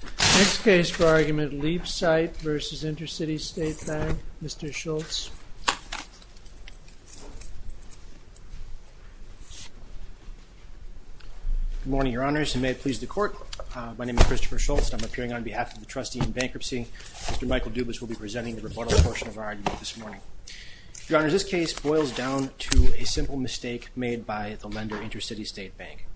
Next case for argument Liebzeit v. Intercity State Bank, Mr. Schultz. Good morning, Your Honors, and may it please the Court. My name is Christopher Schultz, and I'm appearing on behalf of the Trustee in Bankruptcy. Mr. Michael Dubas will be presenting the rebuttal portion of our argument this morning. Your Honors, this case boils down to a simple mistake made by the lender, Intercity State Bank.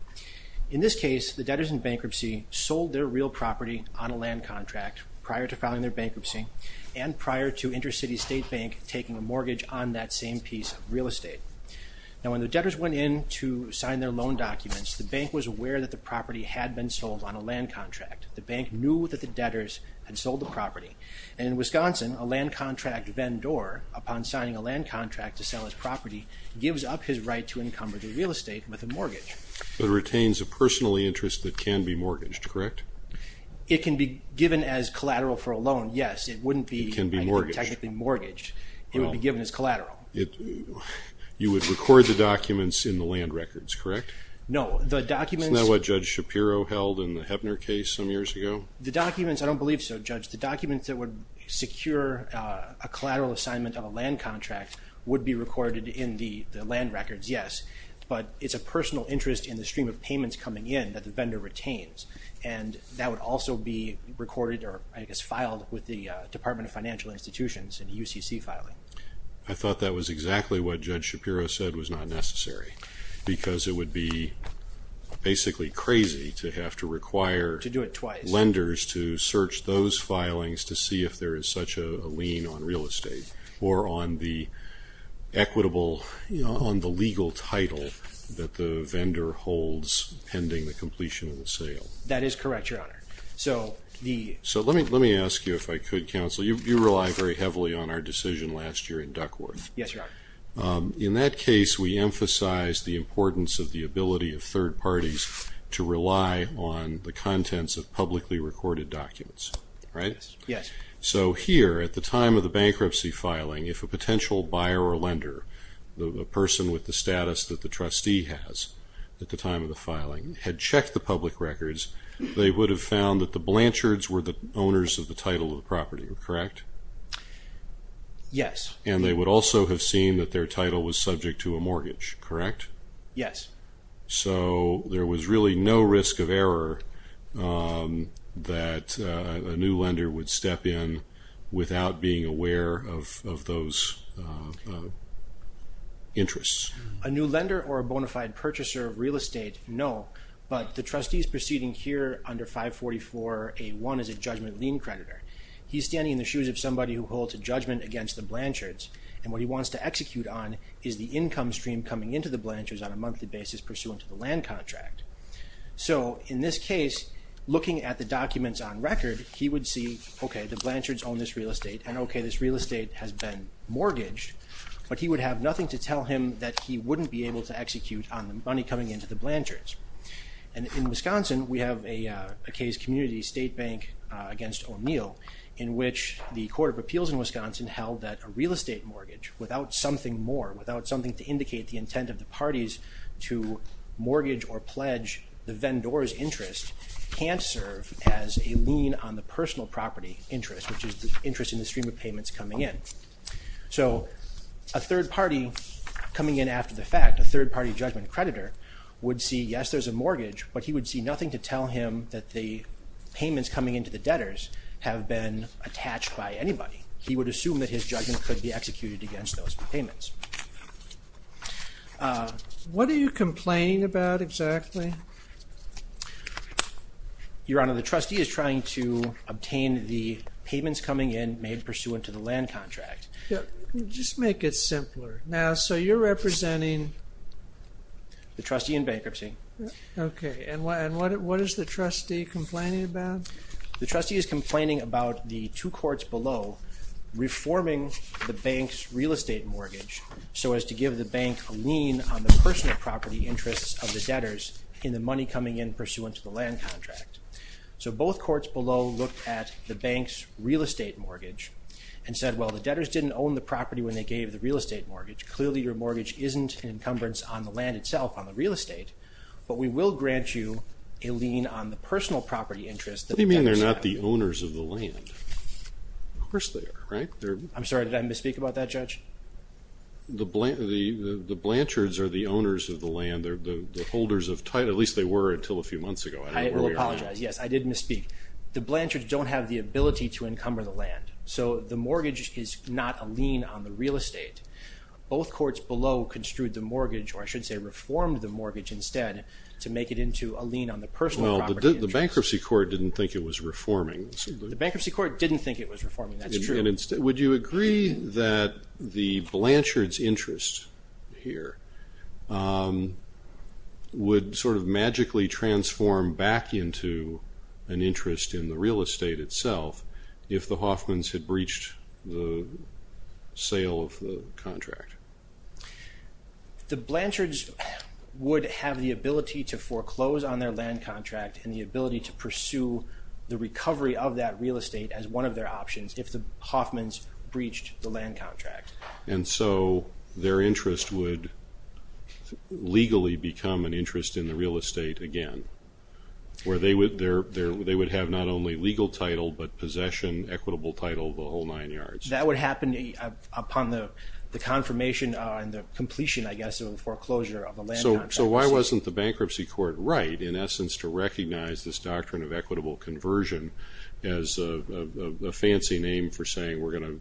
In this case, the debtors in bankruptcy sold their real property on a land contract prior to filing their bankruptcy, and prior to Intercity State Bank taking a mortgage on that same piece of real estate. Now, when the debtors went in to sign their loan documents, the bank was aware that the property had been sold on a land contract. The bank knew that the debtors had sold the property. And in Wisconsin, a land contract vendor, upon signing a land contract to sell his property, gives up his right to encumber the real estate with a mortgage. But it retains a personal interest that can be mortgaged, correct? It can be given as collateral for a loan, yes. It wouldn't be technically mortgaged. It would be given as collateral. You would record the documents in the land records, correct? No, the documents... Isn't that what Judge Shapiro held in the Hebner case some years ago? The documents, I don't believe so, Judge. The documents that would secure a collateral assignment of a land contract would be recorded in the land records, yes. But it's a personal interest in the stream of payments coming in that the vendor retains. And that would also be recorded or, I guess, filed with the Department of Financial Institutions and UCC filing. I thought that was exactly what Judge Shapiro said was not necessary, because it would be basically crazy to have to require... To do it twice. ...lenders to search those filings to see if there is such a lien on real estate or on the equitable, on the legal title that the vendor holds pending the completion of the sale. That is correct, Your Honor. So let me ask you if I could, counsel. You relied very heavily on our decision last year in Duckworth. Yes, Your Honor. In that case, we emphasized the importance of the ability of third parties to rely on the contents of publicly recorded documents, right? Yes. So here, at the time of the bankruptcy filing, if a potential buyer or lender, the person with the status that the trustee has at the time of the filing, had checked the public records, they would have found that the Blanchards were the owners of the title of the property, correct? Yes. And they would also have seen that their title was subject to a mortgage, correct? Yes. So there was really no risk of error that a new lender would step in without being aware of those interests. A new lender or a bona fide purchaser of real estate, no, but the trustees proceeding here under 544A1 is a judgment lien creditor. He's standing in the shoes of somebody who holds a judgment against the Blanchards, and what he wants to execute on is the income stream coming into the Blanchards on a monthly basis pursuant to the land contract. So in this case, looking at the documents on record, he would see, okay, the Blanchards own this real estate, and okay, this real estate has been mortgaged, but he would have nothing to tell him that he wouldn't be able to execute on the money coming into the Blanchards. And in Wisconsin, we have a case community, State Bank against O'Neill, in which the Court of Appeals in Wisconsin held that a real estate mortgage, without something more, without something to indicate the intent of the parties to mortgage or pledge the vendor's interest, can't serve as a lien on the personal property interest, which is the interest in the stream of payments coming in. So a third party coming in after the fact, a third party judgment creditor, would see, yes, there's a mortgage, but he would see nothing to tell him that the payments coming into the debtors have been attached by anybody. He would assume that his judgment could be executed against those payments. What are you complaining about exactly? Your Honor, the trustee is trying to obtain the payments coming in made pursuant to the land contract. Just make it simpler. Now, so you're representing... The trustee in bankruptcy. Okay, and what is the trustee complaining about? The trustee is complaining about the two courts below reforming the bank's real estate mortgage so as to give the bank a lien on the personal property interests of the debtors in the money coming in pursuant to the land contract. So both courts below looked at the bank's real estate mortgage and said, well, the debtors didn't own the property when they gave the real estate mortgage. Clearly, your mortgage isn't an encumbrance on the land itself, on the real estate, but we will grant you a lien on the personal property interest that the debtors have. What do you mean they're not the owners of the land? Of course they are, right? I'm sorry, did I misspeak about that, Judge? The Blanchards are the owners of the land. They're the holders of title. At least they were until a few months ago. I will apologize. Yes, I did misspeak. The Blanchards don't have the ability to encumber the land. So the mortgage is not a lien on the real estate. Both courts below construed the mortgage, or I should say reformed the mortgage instead, to make it into a lien on the personal property interest. Well, the bankruptcy court didn't think it was reforming. The bankruptcy court didn't think it was reforming, that's true. Would you agree that the Blanchards' interest here would sort of magically transform back into an interest in the real estate itself if the Hoffmans had breached the sale of the contract? The Blanchards would have the ability to foreclose on their land contract and the ability to pursue the recovery of that real estate as one of their options if the Hoffmans breached the land contract. And so their interest would legally become an interest in the real estate again, where they would have not only legal title but possession, equitable title, the whole nine yards. That would happen upon the confirmation and the completion, I guess, of the foreclosure of the land contract. So why wasn't the bankruptcy court right, in essence, to recognize this doctrine of equitable conversion as a fancy name for saying we're going to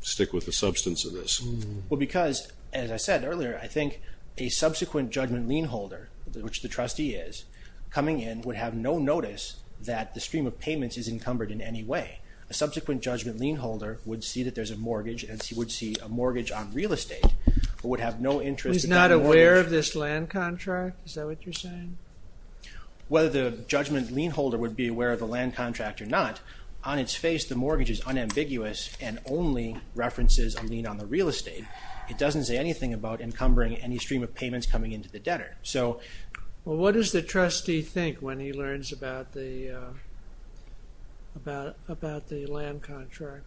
stick with the substance of this? Well, because, as I said earlier, I think a subsequent judgment lien holder, which the trustee is, coming in would have no notice that the stream of payments is encumbered in any way. A subsequent judgment lien holder would see that there's a mortgage and would see a mortgage on real estate, but would have no interest. He's not aware of this land contract? Is that what you're saying? Whether the judgment lien holder would be aware of the land contract or not, on its face the mortgage is unambiguous and only references a lien on the real estate. It doesn't say anything about encumbering any stream of payments coming into the debtor. Well, what does the trustee think when he learns about the land contract?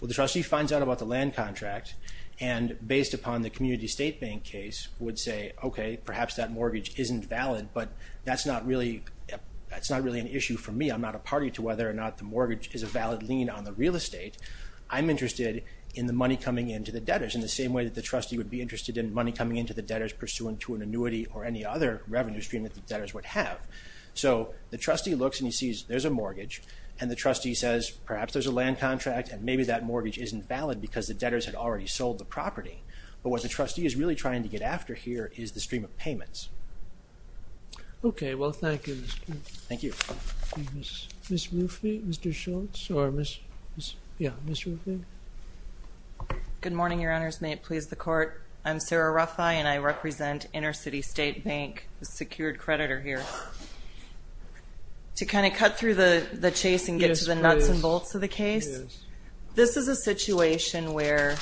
Well, the trustee finds out about the land contract and, based upon the community state bank case, would say, okay, perhaps that mortgage isn't valid, but that's not really an issue for me. I'm not a party to whether or not the mortgage is a valid lien on the real estate. I'm interested in the money coming into the debtors in the same way that the trustee would be interested in money coming into the debtors pursuant to an annuity or any other revenue stream that the debtors would have. So the trustee looks and he sees there's a mortgage, and the trustee says perhaps there's a land contract and maybe that mortgage isn't valid because the debtors had already sold the property. But what the trustee is really trying to get after here is the stream of payments. Okay. Well, thank you, Mr. Schultz. Thank you. Ms. Ruffey, Mr. Schultz, or Ms. Ruffey? Good morning, Your Honors. May it please the Court? I'm Sarah Ruffey, and I represent InterCity State Bank, the secured creditor here. To kind of cut through the chase and get to the nuts and bolts of the case, this is a situation where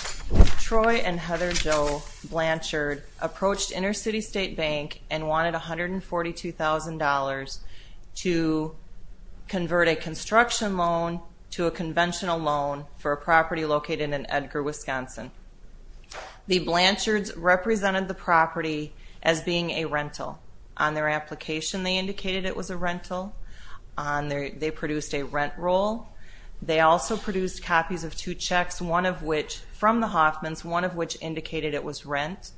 Troy and Heather Jo Blanchard approached InterCity State Bank and wanted $142,000 to convert a construction loan to a conventional loan for a property located in Edgar, Wisconsin. The Blanchards represented the property as being a rental. On their application, they indicated it was a rental. They produced a rent roll. They also produced copies of two checks, one of which from the Hoffmans, one of which indicated it was rent,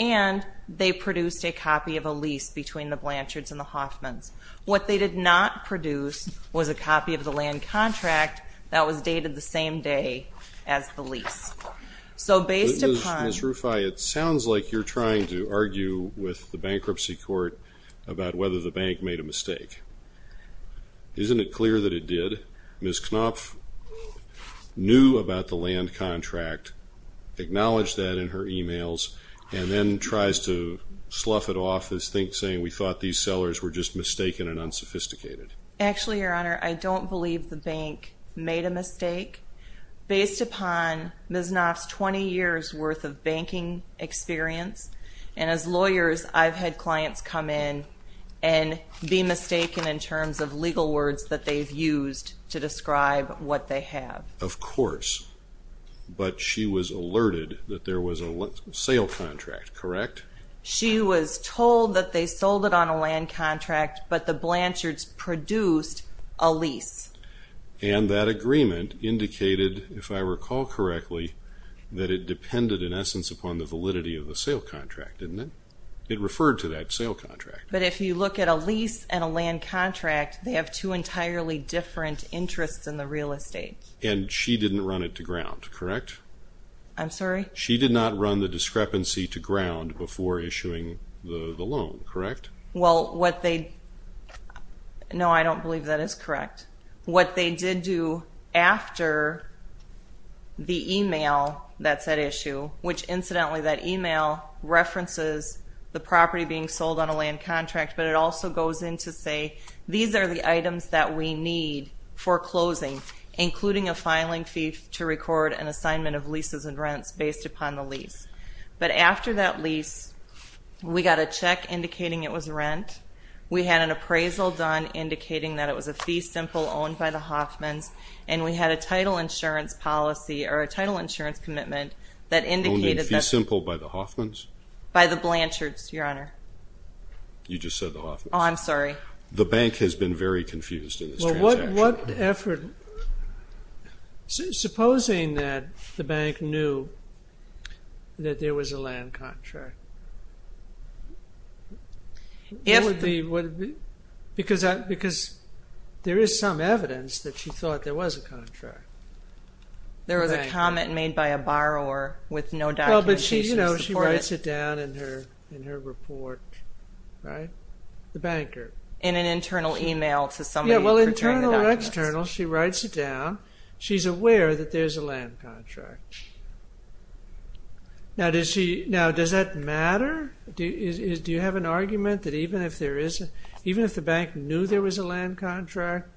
and they produced a copy of a lease between the Blanchards and the Hoffmans. What they did not produce was a copy of the land contract that was dated the same day as the lease. Ms. Ruffey, it sounds like you're trying to argue with the bankruptcy court about whether the bank made a mistake. Isn't it clear that it did? Ms. Knopf knew about the land contract, acknowledged that in her e-mails, and then tries to slough it off as saying, we thought these sellers were just mistaken and unsophisticated. Actually, Your Honor, I don't believe the bank made a mistake based upon Ms. Knopf's 20 years' worth of banking experience. And as lawyers, I've had clients come in and be mistaken in terms of legal words that they've used to describe what they have. Of course, but she was alerted that there was a sale contract, correct? She was told that they sold it on a land contract, but the Blanchards produced a lease. And that agreement indicated, if I recall correctly, that it depended in essence upon the validity of the sale contract, didn't it? It referred to that sale contract. But if you look at a lease and a land contract, they have two entirely different interests in the real estate. And she didn't run it to ground, correct? I'm sorry? She did not run the discrepancy to ground before issuing the loan, correct? No, I don't believe that is correct. What they did do after the email that said issue, which incidentally that email references the property being sold on a land contract, but it also goes in to say these are the items that we need for closing, including a filing fee to record an assignment of leases and rents based upon the lease. But after that lease, we got a check indicating it was rent. We had an appraisal done indicating that it was a fee simple owned by the Hoffmans, and we had a title insurance policy or a title insurance commitment that indicated that. Owned in fee simple by the Hoffmans? By the Blanchards, Your Honor. You just said the Hoffmans. Oh, I'm sorry. The bank has been very confused in this transaction. Supposing that the bank knew that there was a land contract? Because there is some evidence that she thought there was a contract. There was a comment made by a borrower with no documentation to support it. She writes it down in her report, right? The banker. In an internal email to somebody. Yeah, well, internal or external, she writes it down. She's aware that there's a land contract. Now, does that matter? Do you have an argument that even if the bank knew there was a land contract,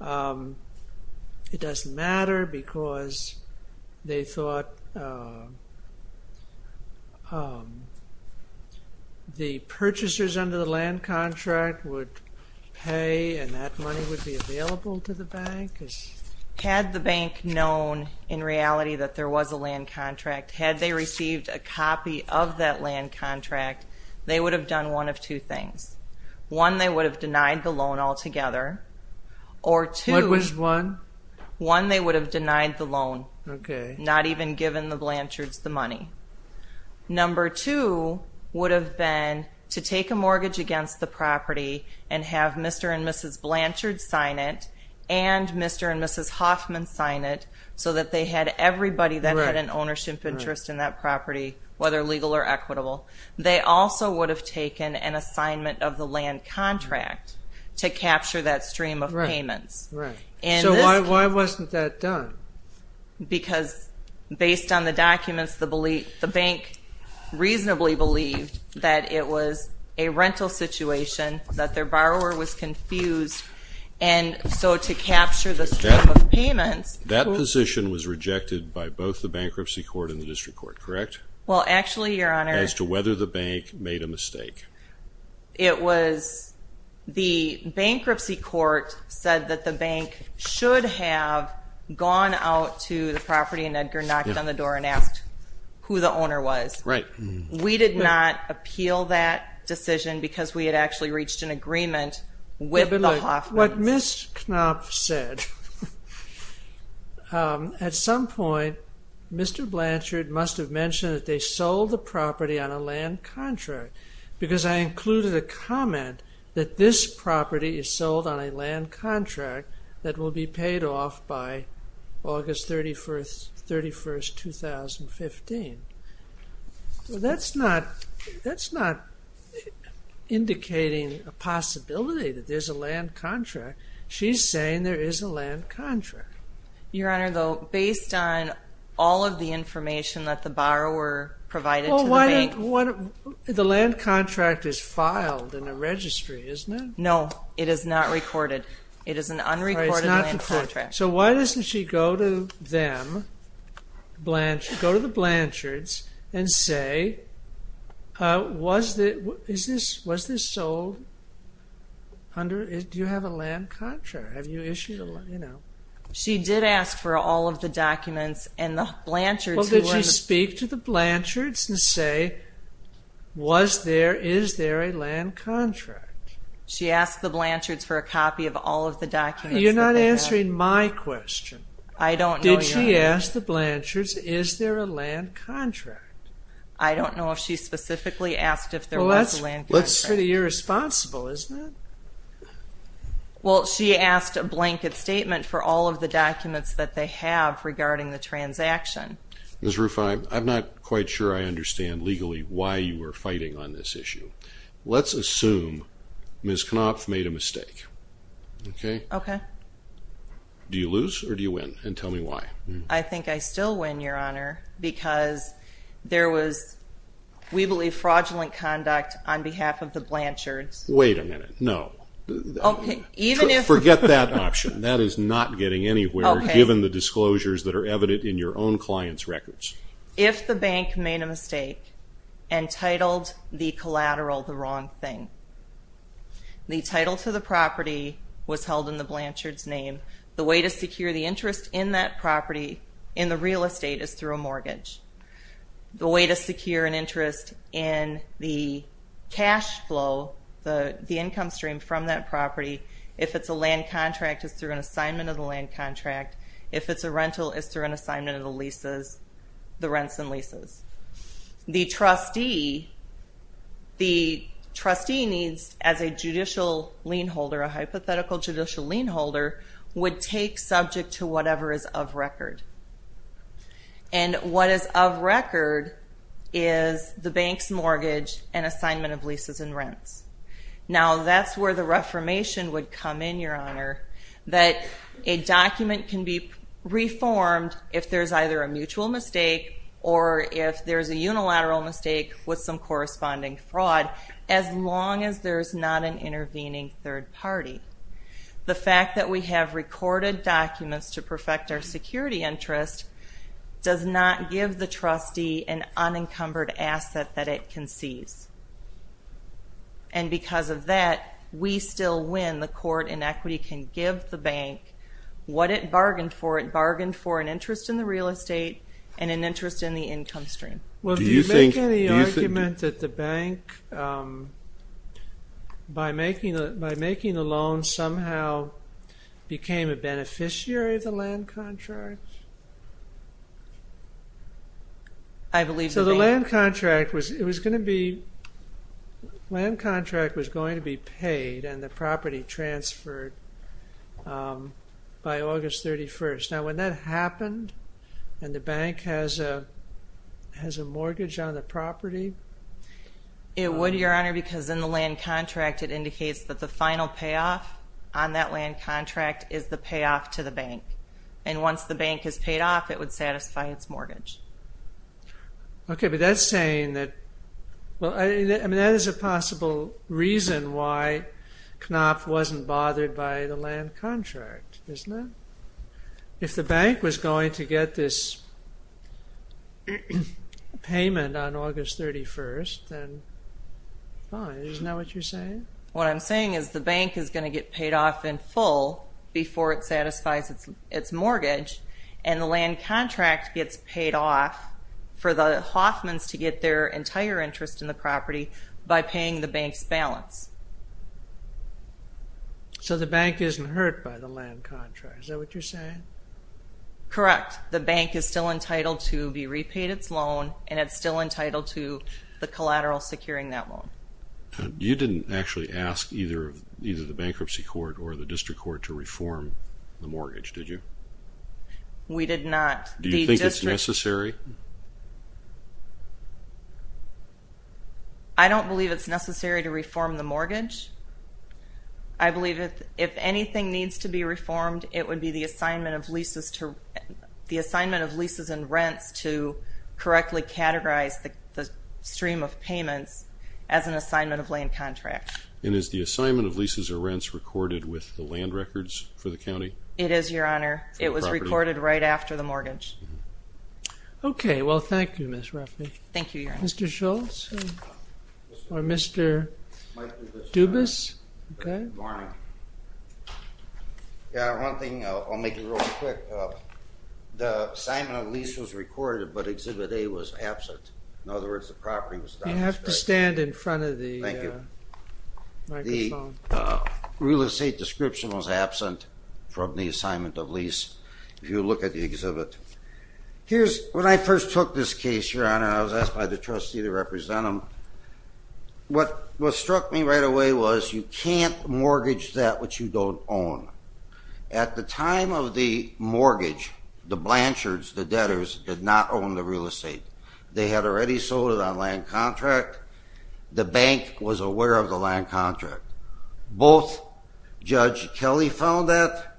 it doesn't matter because they thought the purchasers under the land contract would pay and that money would be available to the bank? Had the bank known in reality that there was a land contract, had they received a copy of that land contract, they would have done one of two things. One, they would have denied the loan altogether. What was one? One, they would have denied the loan, not even given the Blanchards the money. Number two would have been to take a mortgage against the property and have Mr. and Mrs. Blanchard sign it and Mr. and Mrs. Hoffman sign it so that they had everybody that had an ownership interest in that property, whether legal or equitable. They also would have taken an assignment of the land contract to capture that stream of payments. So why wasn't that done? Because based on the documents, the bank reasonably believed that it was a rental situation, that their borrower was confused, and so to capture the stream of payments. That position was rejected by both the bankruptcy court and the district court, correct? Well, actually, Your Honor. As to whether the bank made a mistake. It was the bankruptcy court said that the bank should have gone out to the property and Edgar knocked on the door and asked who the owner was. Right. We did not appeal that decision because we had actually reached an agreement with the Hoffmans. But look, what Ms. Knopf said, at some point Mr. Blanchard must have mentioned that they sold the property on a land contract because I included a comment that this property is sold on a land contract that will be paid off by August 31st, 2015. That's not indicating a possibility that there's a land contract. She's saying there is a land contract. Your Honor, though, based on all of the information that the borrower provided to the bank. The land contract is filed in a registry, isn't it? No, it is not recorded. It is an unrecorded land contract. So why doesn't she go to them, go to the Blanchards, and say, was this sold? Do you have a land contract? Have you issued a land contract? She did ask for all of the documents Well, did she speak to the Blanchards and say, was there, is there a land contract? She asked the Blanchards for a copy of all of the documents. You're not answering my question. I don't know, Your Honor. Did she ask the Blanchards, is there a land contract? I don't know if she specifically asked if there was a land contract. Well, that's pretty irresponsible, isn't it? Well, she asked a blanket statement for all of the documents that they have regarding the transaction. Ms. Ruffin, I'm not quite sure I understand legally why you were fighting on this issue. Let's assume Ms. Knopf made a mistake. Okay? Okay. Do you lose or do you win, and tell me why? I think I still win, Your Honor, because there was, we believe, fraudulent conduct on behalf of the Blanchards. Wait a minute. No. Okay, even if Forget that option. That is not getting anywhere given the disclosures that are evident in your own client's records. If the bank made a mistake and titled the collateral the wrong thing, the title to the property was held in the Blanchards' name, the way to secure the interest in that property in the real estate is through a mortgage. The way to secure an interest in the cash flow, the income stream from that property, if it's a land contract, is through an assignment of the land contract. If it's a rental, it's through an assignment of the leases, the rents and leases. The trustee needs, as a judicial lien holder, a hypothetical judicial lien holder, would take subject to whatever is of record. And what is of record is the bank's mortgage and assignment of leases and rents. Now, that's where the reformation would come in, Your Honor, that a document can be reformed if there's either a mutual mistake or if there's a unilateral mistake with some corresponding fraud, as long as there's not an intervening third party. The fact that we have recorded documents to perfect our security interest does not give the trustee an unencumbered asset that it concedes. And because of that, we still win. The court in equity can give the bank what it bargained for. It bargained for an interest in the real estate and an interest in the income stream. Well, do you make any argument that the bank, by making the loan, somehow became a beneficiary of the land contract? I believe the bank... So the land contract was going to be paid and the property transferred by August 31st. Now, when that happened and the bank has a mortgage on the property... It would, Your Honor, because in the land contract, it indicates that the final payoff on that land contract is the payoff to the bank. And once the bank has paid off, it would satisfy its mortgage. Okay, but that's saying that... Well, I mean, that is a possible reason why Knopf wasn't bothered by the land contract, isn't it? If the bank was going to get this payment on August 31st, then fine, isn't that what you're saying? What I'm saying is the bank is going to get paid off in full before it satisfies its mortgage, and the land contract gets paid off for the Hoffmans to get their entire interest in the property by paying the bank's balance. So the bank isn't hurt by the land contract. Is that what you're saying? Correct. The bank is still entitled to be repaid its loan, and it's still entitled to the collateral securing that loan. You didn't actually ask either the bankruptcy court or the district court to reform the mortgage, did you? We did not. Do you think it's necessary? I don't believe it's necessary to reform the mortgage. I believe if anything needs to be reformed, it would be the assignment of leases and rents to correctly categorize the stream of payments as an assignment of land contract. And is the assignment of leases or rents recorded with the land records for the county? It is, Your Honor. It was recorded right after the mortgage. Okay. Well, thank you, Ms. Ruffey. Thank you, Your Honor. Mr. Schultz or Mr. Dubas? Good morning. One thing, I'll make it real quick. The assignment of leases was recorded, but Exhibit A was absent. In other words, the property was done. You have to stand in front of the microphone. The real estate description was absent from the assignment of lease if you look at the exhibit. When I first took this case, Your Honor, I was asked by the trustee to represent them. What struck me right away was you can't mortgage that which you don't own. At the time of the mortgage, the Blanchards, the debtors, did not own the real estate. They had already sold it on land contract. The bank was aware of the land contract. Both Judge Kelly found that,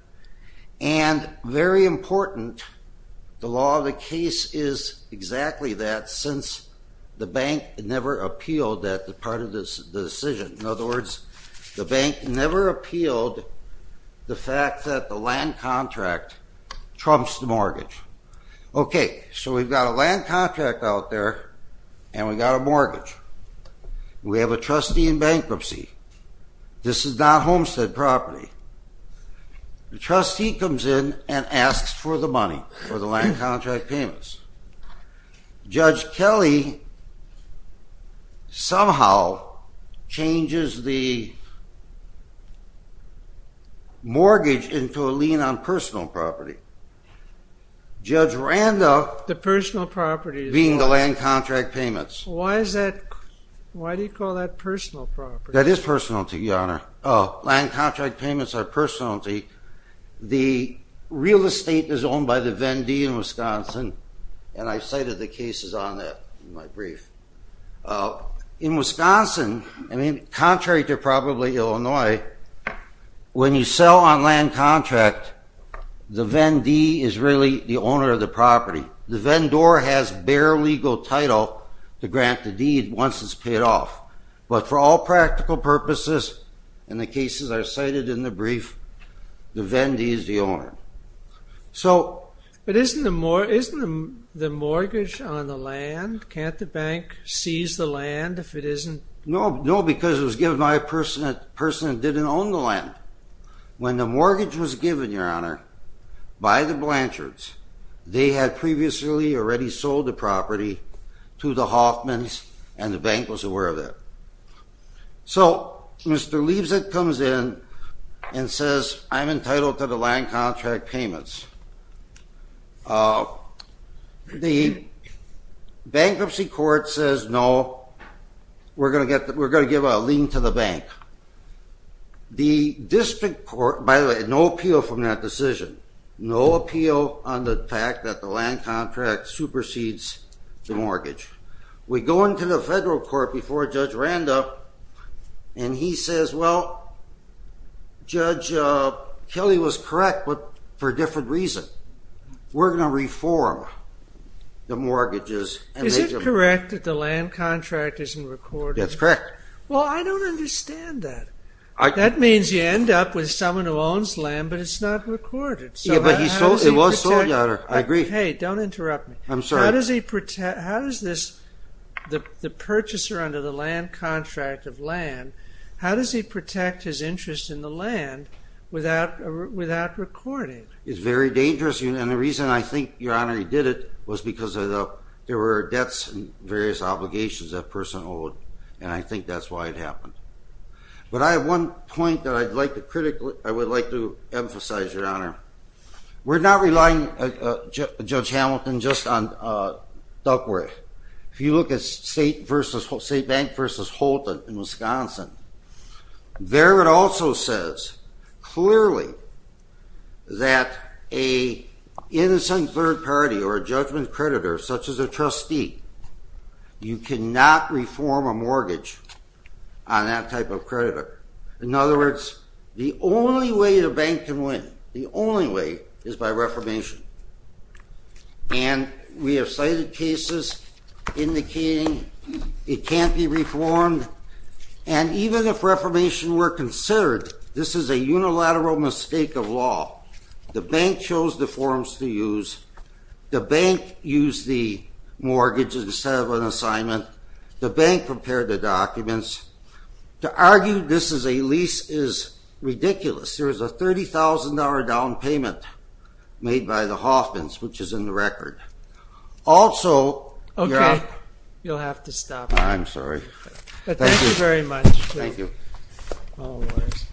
and very important, the law of the case is exactly that since the bank never appealed that part of the decision. In other words, the bank never appealed the fact that the land contract trumps the mortgage. So we've got a land contract out there, and we've got a mortgage. We have a trustee in bankruptcy. This is not Homestead property. The trustee comes in and asks for the money for the land contract payments. Judge Kelly somehow changes the mortgage into a lien on personal property, Judge Randolph being the land contract payments. Why do you call that personal property? That is personality, Your Honor. Land contract payments are personality. The real estate is owned by the Venn D in Wisconsin, and I cited the cases on that in my brief. In Wisconsin, contrary to probably Illinois, when you sell on land contract, the Venn D is really the owner of the property. The vendor has bare legal title to grant the deed once it's paid off. But for all practical purposes, and the cases are cited in the brief, the Venn D is the owner. But isn't the mortgage on the land? Can't the bank seize the land if it isn't? No, because it was given by a person that didn't own the land. When the mortgage was given, Your Honor, by the Blanchards, they had previously already sold the property to the Hoffmans, and the bank was aware of it. So Mr. Leveson comes in and says, I'm entitled to the land contract payments. The bankruptcy court says, we're going to give a lien to the bank. The district court, by the way, no appeal from that decision. No appeal on the fact that the land contract supersedes the mortgage. We go into the federal court before Judge Randolph, and he says, well, Judge Kelly was correct, but for a different reason. We're going to reform the mortgages. Is it correct that the land contract isn't recorded? That's correct. Well, I don't understand that. That means you end up with someone who owns land, but it's not recorded. Yeah, but it was sold, Your Honor. I agree. Hey, don't interrupt me. I'm sorry. How does the purchaser under the land contract of land, how does he protect his interest in the land without recording? It's very dangerous. And the reason I think, Your Honor, he did it was because there were debts and various obligations that person owed, and I think that's why it happened. But I have one point that I would like to emphasize, Your Honor. We're not relying, Judge Hamilton, just on Duckworth. If you look at State Bank versus Holton in Wisconsin, there it also says clearly that an innocent third party or a judgment creditor, such as a trustee, you cannot reform a mortgage on that type of creditor. In other words, the only way the bank can win, the only way, is by reformation. And we have cited cases indicating it can't be reformed, and even if reformation were considered, this is a unilateral mistake of law. The bank chose the forms to use. The bank used the mortgage instead of an assignment. The bank prepared the documents. To argue this is a lease is ridiculous. There is a $30,000 down payment made by the Hoffmans, which is in the record. Also, Your Honor. Okay. You'll have to stop. I'm sorry. Thank you. Thank you very much. Thank you. Always.